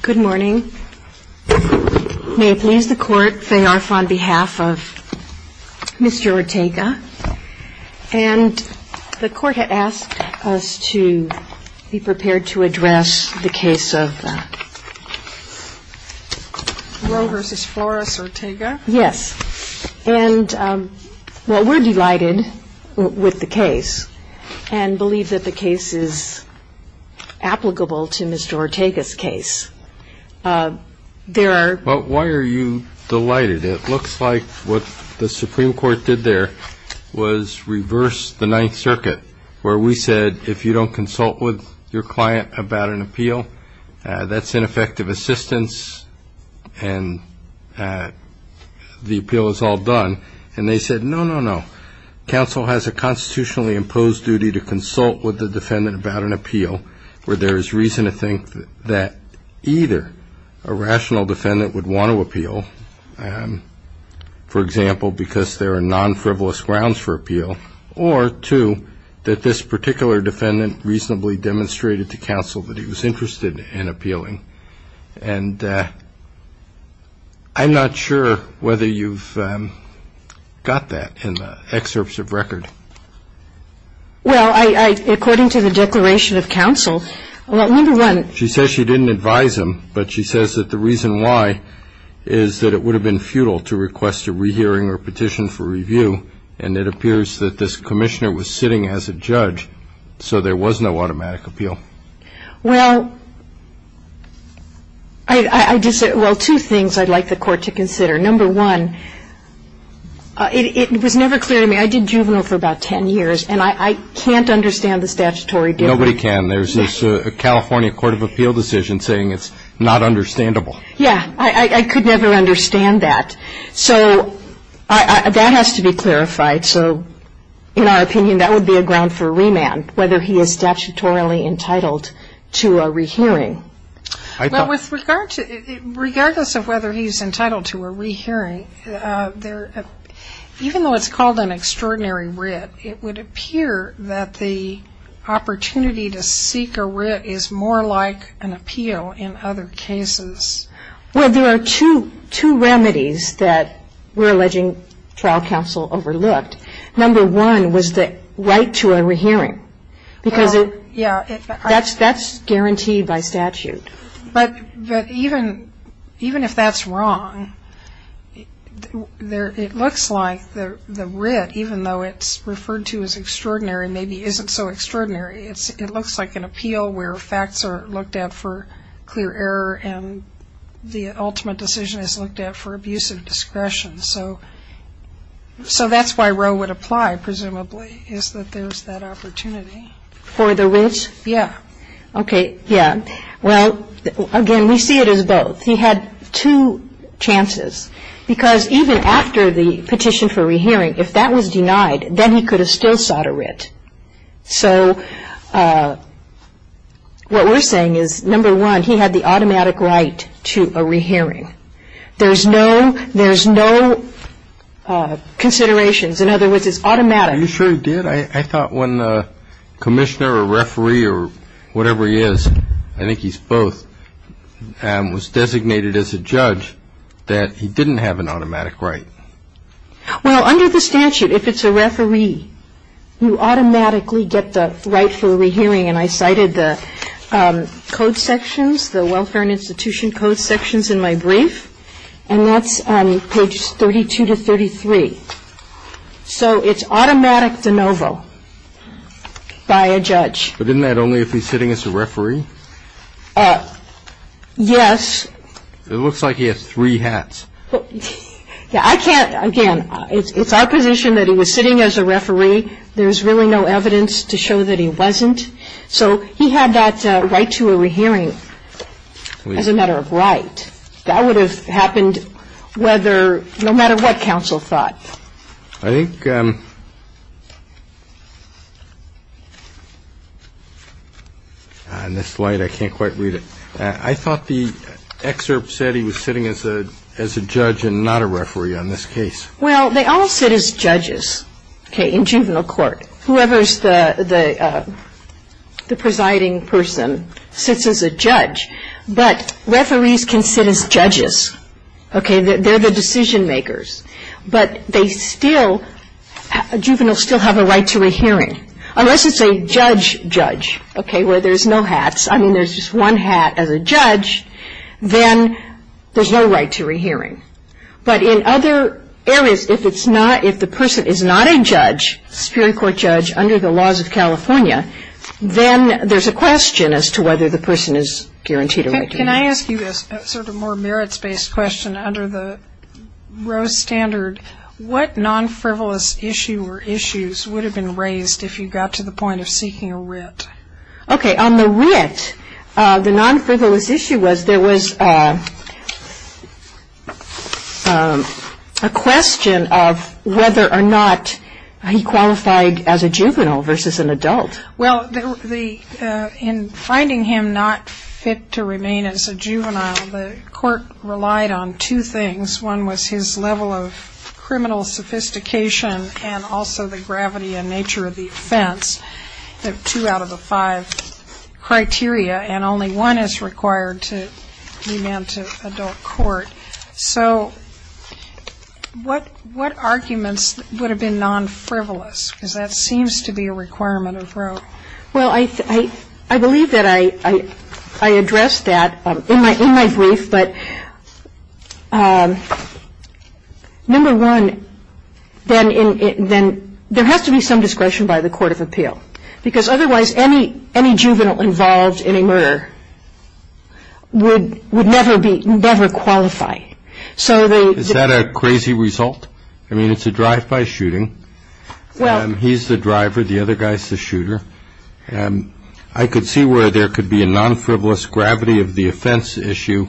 Good morning. May it please the Court, Faye Arf on behalf of Mr. Ortega, and the Court had asked us to be prepared to address the case of Roe v. Flores Ortega. Yes, and well we're delighted with the case and believe that the case is applicable to Mr. Ortega's case. There are... Well, why are you delighted? It looks like what the Supreme Court did there was reverse the Ninth Circuit, where we said if you don't consult with your client about an appeal, that's ineffective assistance, and the appeal is all done, and they said no, no, no. Counsel has a constitutionally imposed duty to consult with the defendant about an appeal, where there is reason to think that either a rational defendant would want to appeal, for example, because there are non-frivolous grounds for appeal, or two, that this particular defendant reasonably demonstrated to counsel that he was interested in appealing, and I'm not sure whether you've got that in the excerpts of record. Well, according to the Declaration of Counsel, well, number one... She says she didn't advise him, but she says that the reason why is that it would have been futile to request a rehearing or petition for review, and it appears that this Commissioner was sitting as a judge, so there was no automatic appeal. Well, I just said, well, two things I'd like the Court to consider. Number one, it was never clear to me. I did juvenile for about 10 years, and I can't understand the statutory difference. Nobody can. There's this California Court of Appeal decision saying it's not understandable. Yeah. I could never understand that. So that has to be clarified. So in our opinion, that would be a ground for remand, whether he is statutorily entitled to a rehearing. Well, regardless of whether he's entitled to a rehearing, even though it's called an extraordinary writ, it would appear that the opportunity to seek a writ is more like an appeal in other cases. Well, there are two remedies that we're alleging trial counsel overlooked. Number one was the right to a rehearing, because that's guaranteed by statute. But even if that's wrong, it looks like the writ, even though it's referred to as extraordinary, maybe isn't so extraordinary, it looks like an appeal where facts are looked at for clear error and the ultimate decision is looked at for abuse of discretion. So that's why Roe would apply, presumably, is that there's that opportunity. For the writ? Yeah. Okay. Yeah. Well, again, we see it as both. He had two chances, because even after the petition for a rehearing, if that was denied, then he could have still sought a writ. So what we're saying is, number one, he had the automatic right to a rehearing. There's no considerations. In other words, it's automatic. Are you sure he did? I thought when a commissioner or referee or whatever he is, I think he's both, was designated as a judge, that he didn't have an automatic right. Well, under the statute, if it's a referee, you automatically get the right for a rehearing. And I cited the code sections, the Welfare and Institution Code sections in my brief, and that's page 32 to 33. So it's automatic de novo by a judge. But isn't that only if he's sitting as a referee? Yes. It looks like he has three hats. Yeah, I can't, again, it's our position that he was sitting as a referee. There's really no evidence to show that he wasn't. So he had that right to a rehearing as a matter of right. That would have happened whether, no matter what counsel thought. I think, on this slide, I can't quite read it. I thought the excerpt said he was sitting as a judge and not a referee on this case. Well, they all sit as judges, okay, in juvenile court. Whoever's the presiding person sits as a judge. But referees can sit as judges, okay, they're the decision makers. But they still, juveniles still have a right to a hearing. Unless it's a judge judge, okay, where there's no hats. I mean, there's just one hat as a judge, then there's no right to a hearing. But in other areas, if it's not, if the person is not a judge, a superior court judge, under the laws of California, then there's a question as to whether the person is guaranteed a right to a hearing. Can I ask you a sort of more merits-based question under the Rose standard? What non-frivolous issue or issues would have been raised if you got to the point of seeking a writ? Okay, on the writ, the non-frivolous issue was there was a question of whether or not he qualified as a juvenile versus an adult. Well, in finding him not fit to remain as a juvenile, the court relied on two things. One was his level of criminal sophistication and also the gravity and nature of the offense, the two out of the five criteria. And only one is So what arguments would have been non-frivolous? Because that seems to be a requirement of Rose. Well, I believe that I addressed that in my brief. But number one, then there has to be some discretion by the court of appeal. Because otherwise, any juvenile involved in a murder would never qualify. Is that a crazy result? I mean, it's a drive-by shooting. He's the driver, the other guy's the shooter. I could see where there could be a non-frivolous gravity of the offense issue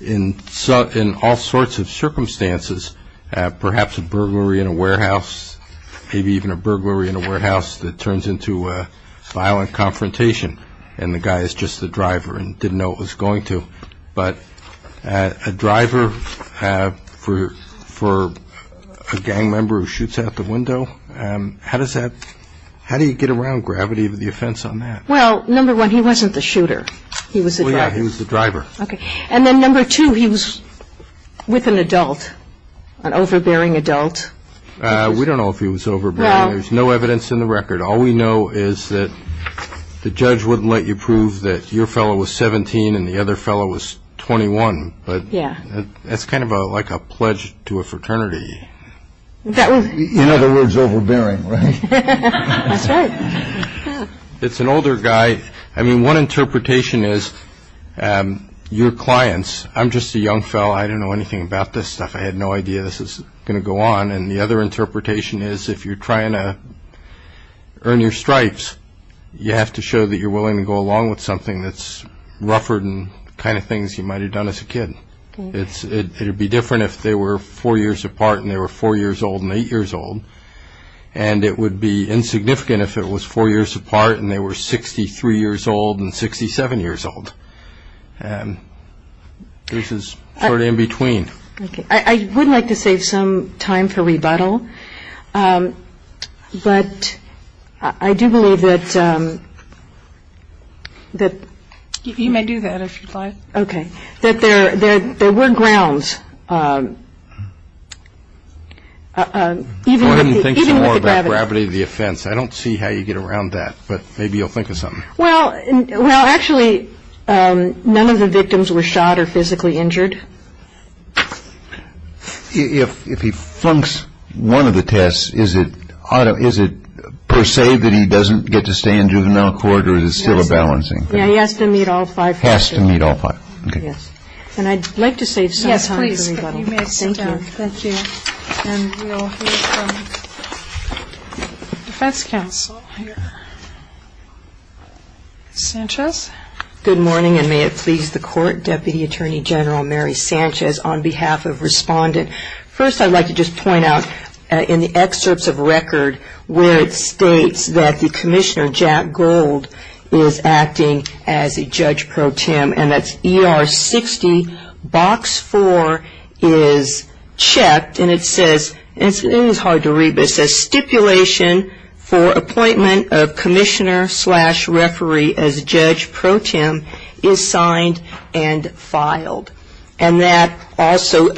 in all sorts of circumstances, perhaps a burglary in a warehouse, maybe even a burglary in a warehouse that turns into a violent confrontation and the guy is just the driver and didn't know it was going to. But a driver for a gang member who shoots out the window, how does that, how do you get around gravity of the offense on that? Well, number one, he wasn't the shooter. He was the driver. Well, yeah, he was the driver. Okay. And then number two, he was with an adult, an overbearing adult. We don't know if he was overbearing. There's no evidence in the record. All we know is that the judge wouldn't let you prove that your fellow was 17 and the other fellow was 21. But that's kind of like a pledge to a fraternity. In other words, overbearing, right? That's right. It's an older guy. I mean, one interpretation is your clients, I'm just a young fellow. I didn't know anything about this stuff. I had no idea this was going to go on. And the other interpretation is if you're trying to earn your stripes, you have to show that you're willing to go along with something that's rougher than the kind of things you might have done as a kid. It would be different if they were four years apart and they were four years old and eight years old. And it would be insignificant if it was four years apart and they were 63 years old and 67 years old. This is sort of in between. I would like to save some time for rebuttal. But I do believe that there were grounds, even with the gravity of the offense. I don't see how you get around that, but maybe you'll think of something. Well, actually, none of the victims were shot or physically injured. If he flunks one of the tests, is it per se that he doesn't get to stay in juvenile court or is it still a balancing thing? Yeah, he has to meet all five tests. Has to meet all five. And I'd like to save some time for rebuttal. Yes, please. You may sit down. Thank you. And we'll hear from the defense counsel here. Sanchez. Good morning and may it please the court, Deputy Attorney General Mary Sanchez, on behalf of Respondent. First, I'd like to just point out in the excerpts of record where it states that the commissioner, Jack Gold, is acting as a judge pro tem and that's ER 60, box 4 is checked and it says, it's hard to read, but it says stipulation for appointment of commissioner slash referee as judge pro tem is signed and filed. And that also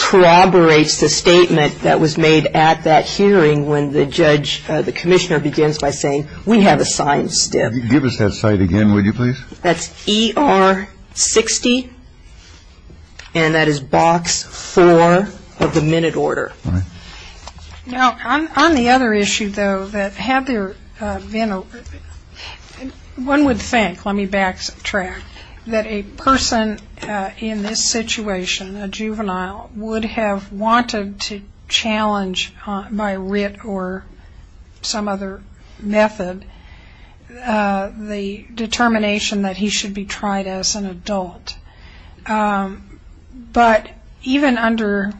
corroborates the statement that was made at that hearing when the judge, the commissioner begins by saying, we have a signed stip. Give us that site again, would you please? That's ER 60 and that is box 4 of the minute order. All right. Now, on the other issue, though, that had there been a one would think, let me back track, that a person in this situation, a juvenile, would have wanted to challenge by writ or some other method the determination that he should be tried as an adult. But even under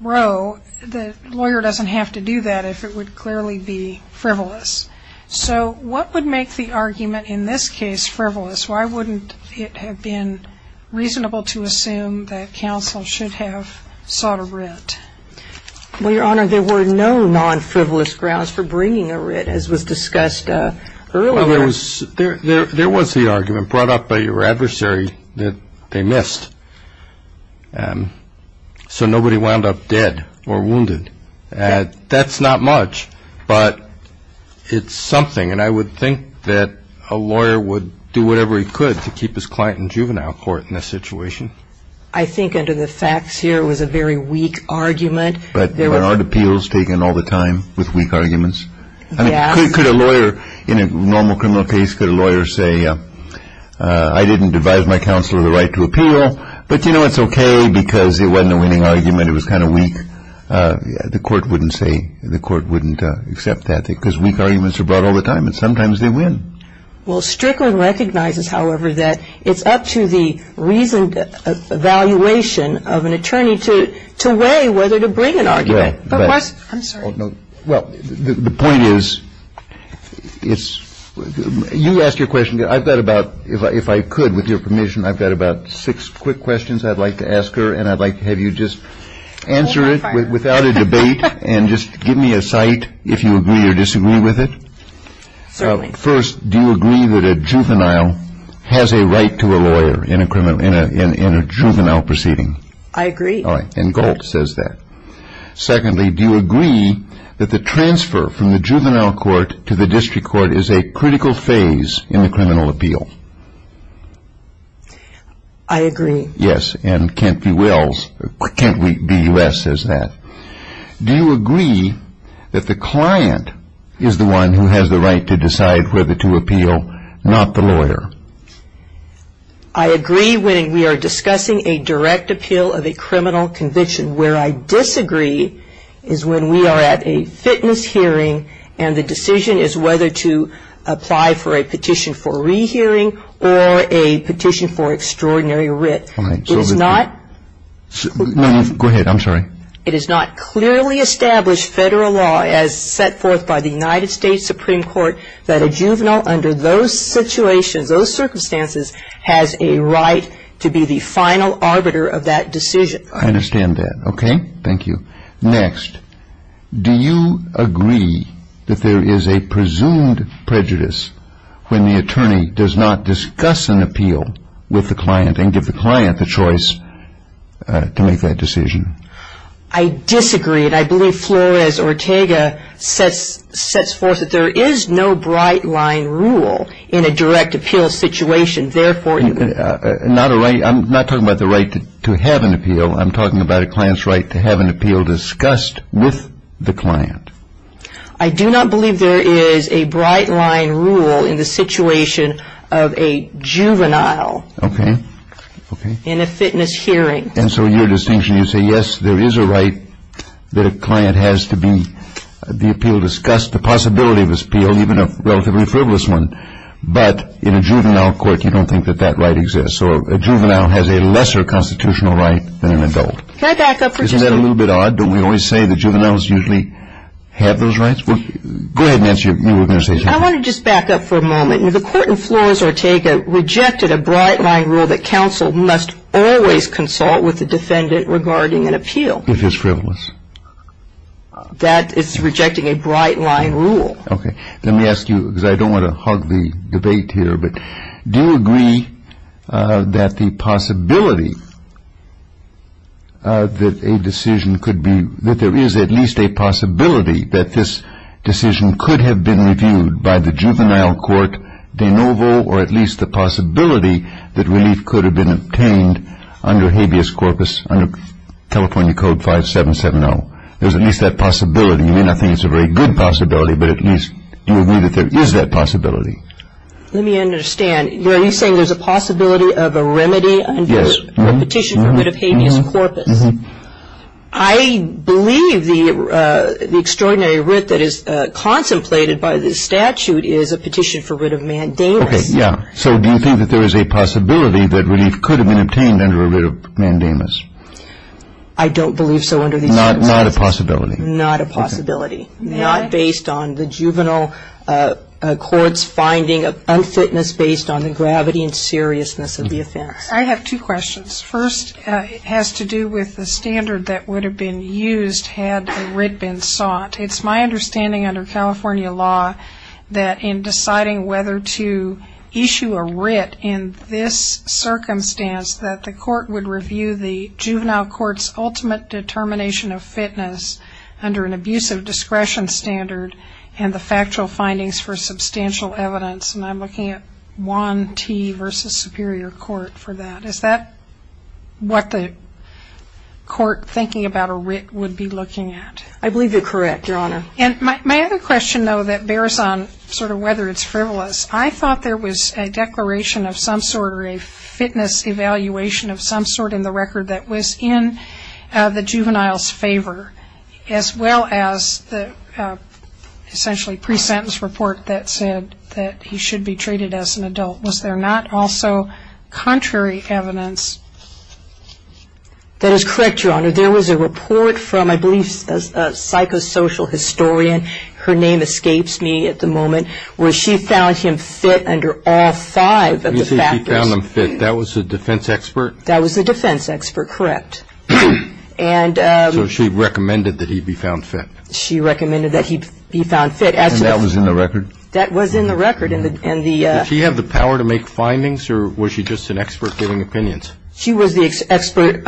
Roe, the lawyer doesn't have to do that if it would clearly be frivolous. So what would make the argument in this case frivolous? Why wouldn't it have been reasonable to assume that he sought a writ? Well, Your Honor, there were no non-frivolous grounds for bringing a writ as was discussed earlier. There was the argument brought up by your adversary that they missed. So nobody wound up dead or wounded. That's not much. But it's something. And I would think that a lawyer would do whatever he could to keep his client in juvenile court in this situation. I think under the facts here, it was a very weak argument. But aren't appeals taken all the time with weak arguments? Yes. Could a lawyer in a normal criminal case, could a lawyer say, I didn't devise my counsel of the right to appeal, but you know, it's OK because it wasn't a winning argument. It was kind of weak. The court wouldn't say, the court wouldn't accept that because weak arguments are brought all the time. And sometimes they win. Well, Strickland recognizes, however, that it's up to the reasoned evaluation of an attorney to weigh whether to bring an argument. I'm sorry. Well, the point is, you asked your question. I've got about, if I could, with your permission, I've got about six quick questions I'd like to ask her. And I'd like to have you just answer it without a debate and just give me a cite if you agree or disagree with it. Certainly. First, do you agree that a juvenile has a right to a lawyer in a juvenile proceeding? I agree. And Golt says that. Secondly, do you agree that the transfer from the juvenile court to the district court is a critical phase in the criminal appeal? I agree. Yes. And Kent B. Wells, Kent B. U.S. says that. Do you agree that the decision is whether to appeal, not the lawyer? I agree when we are discussing a direct appeal of a criminal conviction. Where I disagree is when we are at a fitness hearing and the decision is whether to apply for a petition for rehearing or a petition for extraordinary writ. Fine. It is not. No, go ahead. I'm sorry. It is not clearly established federal law as set forth by the United States Supreme Court that a juvenile under those situations, those circumstances, has a right to be the final arbiter of that decision. I understand that. Okay. Thank you. Next, do you agree that there is a presumed prejudice when the attorney does not discuss an appeal with the client and give the client the choice to make that decision? I disagree. And I believe Flores Ortega sets forth that there is no bright-line rule in a direct appeal situation. Therefore, you can Not a right. I'm not talking about the right to have an appeal. I'm talking about a client's right to have an appeal discussed with the client. I do not believe there is a bright-line rule in the situation of a juvenile. Okay. Okay. In a fitness hearing. And so your distinction, you say, yes, there is a right that a client has to be the appeal discussed, the possibility of this appeal, even a relatively frivolous one. But in a juvenile court, you don't think that that right exists. So a juvenile has a lesser constitutional right than an adult. Can I back up for just a moment? Isn't that a little bit odd? Don't we always say that juveniles usually have those rights? Go ahead, Nancy. You were going to say something. I want to just back up for a moment. The court in Flores Ortega rejected a bright-line rule that counsel must always consult with the defendant regarding an appeal. If it's frivolous. That is rejecting a bright-line rule. Okay. Let me ask you, because I don't want to hog the debate here, but do you agree that the possibility that a decision could be, that there is at least a possibility that this decision could have been reviewed by the that relief could have been obtained under habeas corpus, under California Code 5770? There's at least that possibility. You may not think it's a very good possibility, but at least you agree that there is that possibility. Let me understand. You're at least saying there's a possibility of a remedy for a petition for writ of habeas corpus. I believe the extraordinary writ that is contemplated by the statute is a petition for writ of mandamus. Okay. Yeah. So do you think that there is a possibility that relief could have been obtained under a writ of mandamus? I don't believe so under these circumstances. Not a possibility? Not a possibility. Not based on the juvenile court's finding of unfitness based on the gravity and seriousness of the offense. I have two questions. First, it has to do with the standard that would have been used had a writ been sought. It's my understanding under California law that in deciding whether to issue a writ in this circumstance that the court would review the juvenile court's ultimate determination of fitness under an abusive discretion standard and the factual findings for substantial evidence. And I'm looking at Juan T. v. Superior Court for that. Is that what the court thinking about a writ would be looking at? I believe you're correct, Your Honor. And my other question, though, that bears on sort of whether it's frivolous, I thought there was a declaration of some sort or a fitness evaluation of some sort in the record that was in the juvenile's favor as well as the essentially pre-sentence report that said that he should be treated as an adult. Was there not also contrary evidence? That is correct, Your Honor. There was a report from, I believe, a psychosocial historian, her name escapes me at the moment, where she found him fit under all five of the factors. You say she found him fit. That was the defense expert? That was the defense expert, correct. So she recommended that he be found fit? She recommended that he be found fit. And that was in the record? That was in the record. Did she have the power to make findings or was she just an expert giving opinions? She was the expert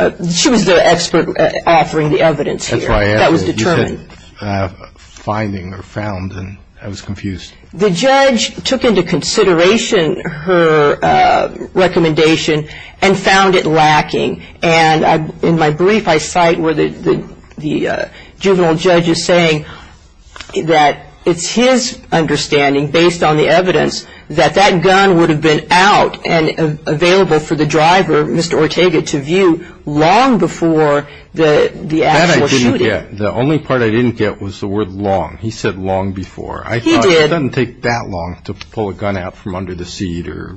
offering the evidence here. That was determined. I said finding or found, and I was confused. The judge took into consideration her recommendation and found it lacking. And in my brief, I cite where the juvenile judge is saying that it's his understanding, based on the evidence, that that gun would have been out and available for the driver, Mr. Ortega, to view long before the actual shooting. That I didn't get. The only part I didn't get was the word long. He said long before. He did. It doesn't take that long to pull a gun out from under the seat or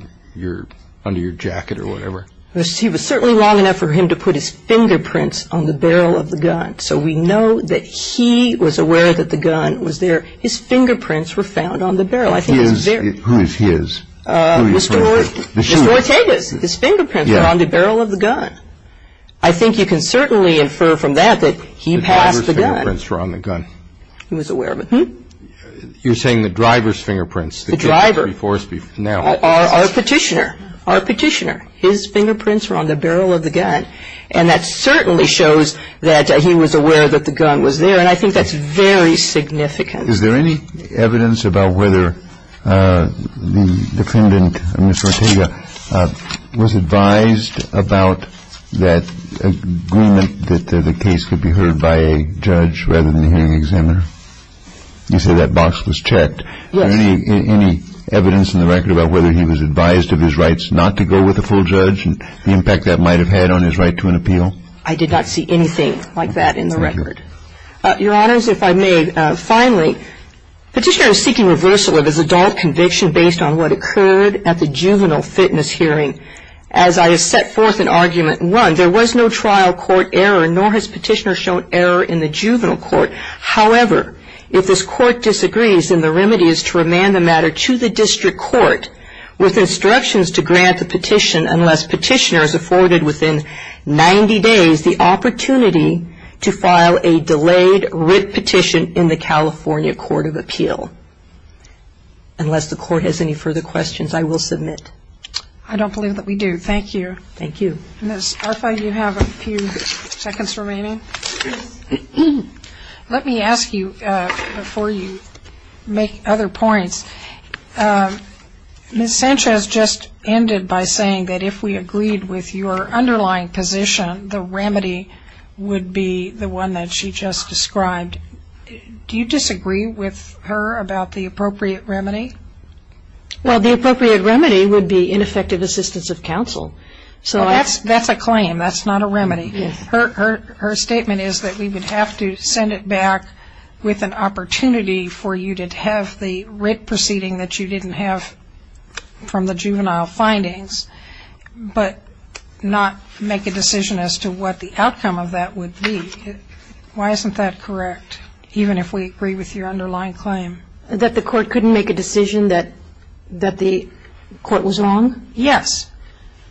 under your jacket or whatever. He was certainly long enough for him to put his fingerprints on the barrel of the gun. So we know that he was aware that the gun was there. His fingerprints were found on the barrel. His? Who's his? Mr. Ortega's. His fingerprints were on the barrel of the gun. I think you can certainly infer from that that he passed the gun. The driver's fingerprints were on the gun. He was aware of it. Hmm? You're saying the driver's fingerprints. The driver. Before now. Our petitioner. Our petitioner. His fingerprints were on the barrel of the gun. And that certainly shows that he was aware that the gun was there. And I think that's very significant. Is there any evidence about whether the defendant, Mr. Ortega, was advised about that agreement that the case could be heard by a judge rather than the hearing examiner? You said that box was checked. Yes. Any evidence in the record about whether he was advised of his rights not to go with a full judge and the impact that might have had on his right to an appeal? I did not see anything like that in the record. Your Honors, if I may, finally, petitioner is seeking reversal of his adult conviction based on what occurred at the juvenile fitness hearing. As I have set forth in argument one, there was no trial court error, nor has petitioner shown error in the juvenile court. However, if this court disagrees, then the remedy is to remand the matter to the district court with instructions to grant the petition unless petitioner is afforded within 90 days the opportunity to file a delayed writ petition in the case. Unless the court has any further questions, I will submit. I don't believe that we do. Thank you. Thank you. Ms. Arfa, you have a few seconds remaining. Let me ask you before you make other points. Ms. Sanchez just ended by saying that if we agreed with your underlying position, the remedy would be the one that she just described. Do you disagree with her about the appropriate remedy? Well, the appropriate remedy would be ineffective assistance of counsel. That's a claim. That's not a remedy. Her statement is that we would have to send it back with an opportunity for you to have the writ proceeding that you didn't have from the juvenile findings, but not make a decision as to what the outcome of that would be. Why isn't that correct, even if we agree with your underlying claim? That the court couldn't make a decision that the court was wrong? Yes.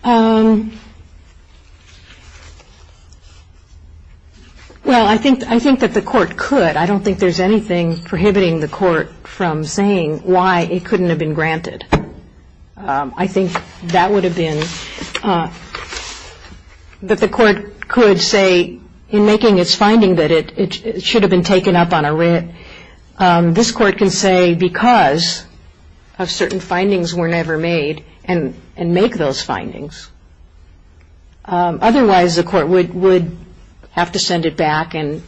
Well, I think that the court could. I don't think there's anything prohibiting the court from saying why it couldn't have been granted. I think that would have been, that the court could say in making its finding that it should have been taken up on a writ, this court can say because of certain findings were never made and make those findings. Otherwise, the court would have to send it back and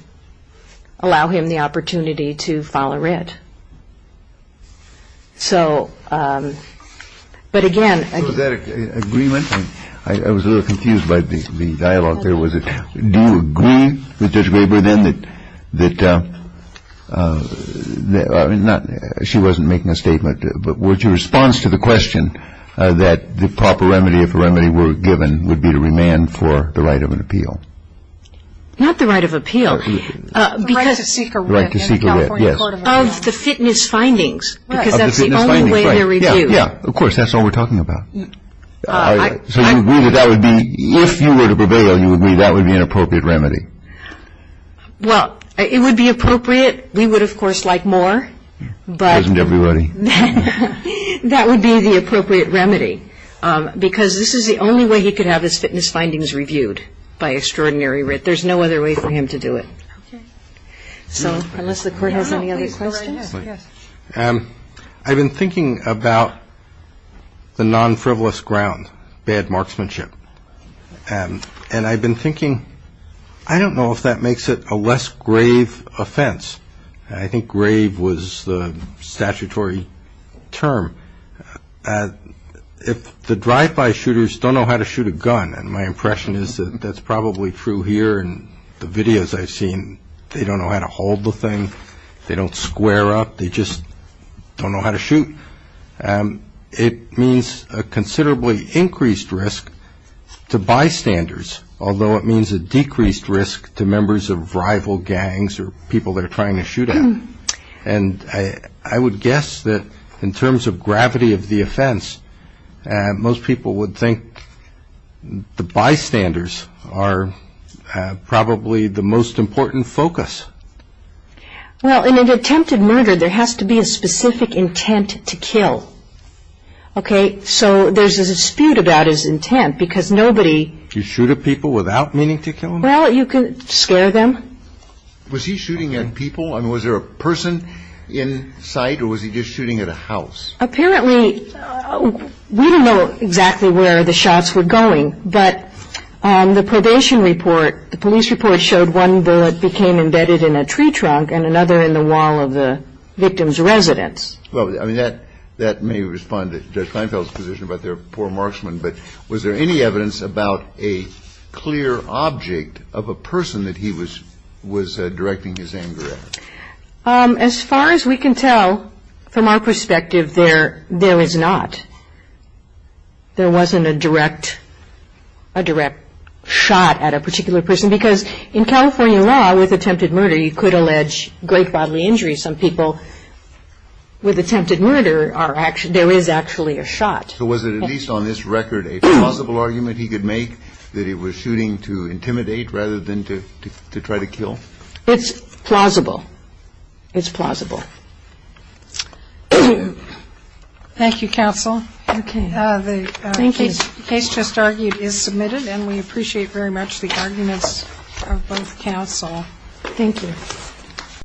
allow him the opportunity to file a writ. So, but again. So is that an agreement? I was a little confused by the dialogue there. Was it, do you agree with Judge Graber then that, that, not, she wasn't making a statement, but was your response to the question that the proper remedy, if a remedy were given, would be to remand for the right of an appeal? Not the right of appeal. The right to seek a writ. The right to seek a writ, yes. Of the fitness findings. Because that's the only way they're reviewed. Of course, that's all we're talking about. So you agree that that would be, if you were to prevail, you would agree that would be an appropriate remedy? Well, it would be appropriate. We would, of course, like more. Prison to everybody. That would be the appropriate remedy. Because this is the only way he could have his fitness findings reviewed, by extraordinary writ. There's no other way for him to do it. Okay. So, unless the court has any other questions. I've been thinking about the non-frivolous ground, bad marksmanship. And I've been thinking, I don't know if that makes it a less grave offense. I think grave was the statutory term. If the drive-by shooters don't know how to shoot a gun, and my impression is that that's probably true here in the videos I've seen. They don't know how to hold the thing. They don't square up. They just don't know how to shoot. It means a considerably increased risk to bystanders. Although it means a decreased risk to members of rival gangs or people they're trying to shoot at. And I would guess that in terms of gravity of the offense, most people would think the bystanders are probably the most important focus. Well, in an attempted murder, there has to be a specific intent to kill. Okay. So, there's a dispute about his intent. Because nobody. You shoot at people without meaning to kill them? Well, you can scare them. Was he shooting at people? And was there a person in sight? Or was he just shooting at a house? Apparently, we don't know exactly where the shots were going. But the probation report, the police report, showed one bullet became embedded in a tree trunk and another in the wall of the victim's residence. Well, I mean, that may respond to Judge Kleinfeld's position about their poor marksman. But was there any evidence about a clear object of a person that he was directing his anger at? As far as we can tell, from our perspective, there is not. There wasn't a direct shot at a particular person. Because in California law, with attempted murder, you could allege great bodily injury. Some people with attempted murder, there is actually a shot. So, was it at least on this record a plausible argument he could make that he was shooting to intimidate rather than to try to kill? It's plausible. It's plausible. Thank you, counsel. The case just argued is submitted, and we appreciate very much the arguments of both counsel. Thank you.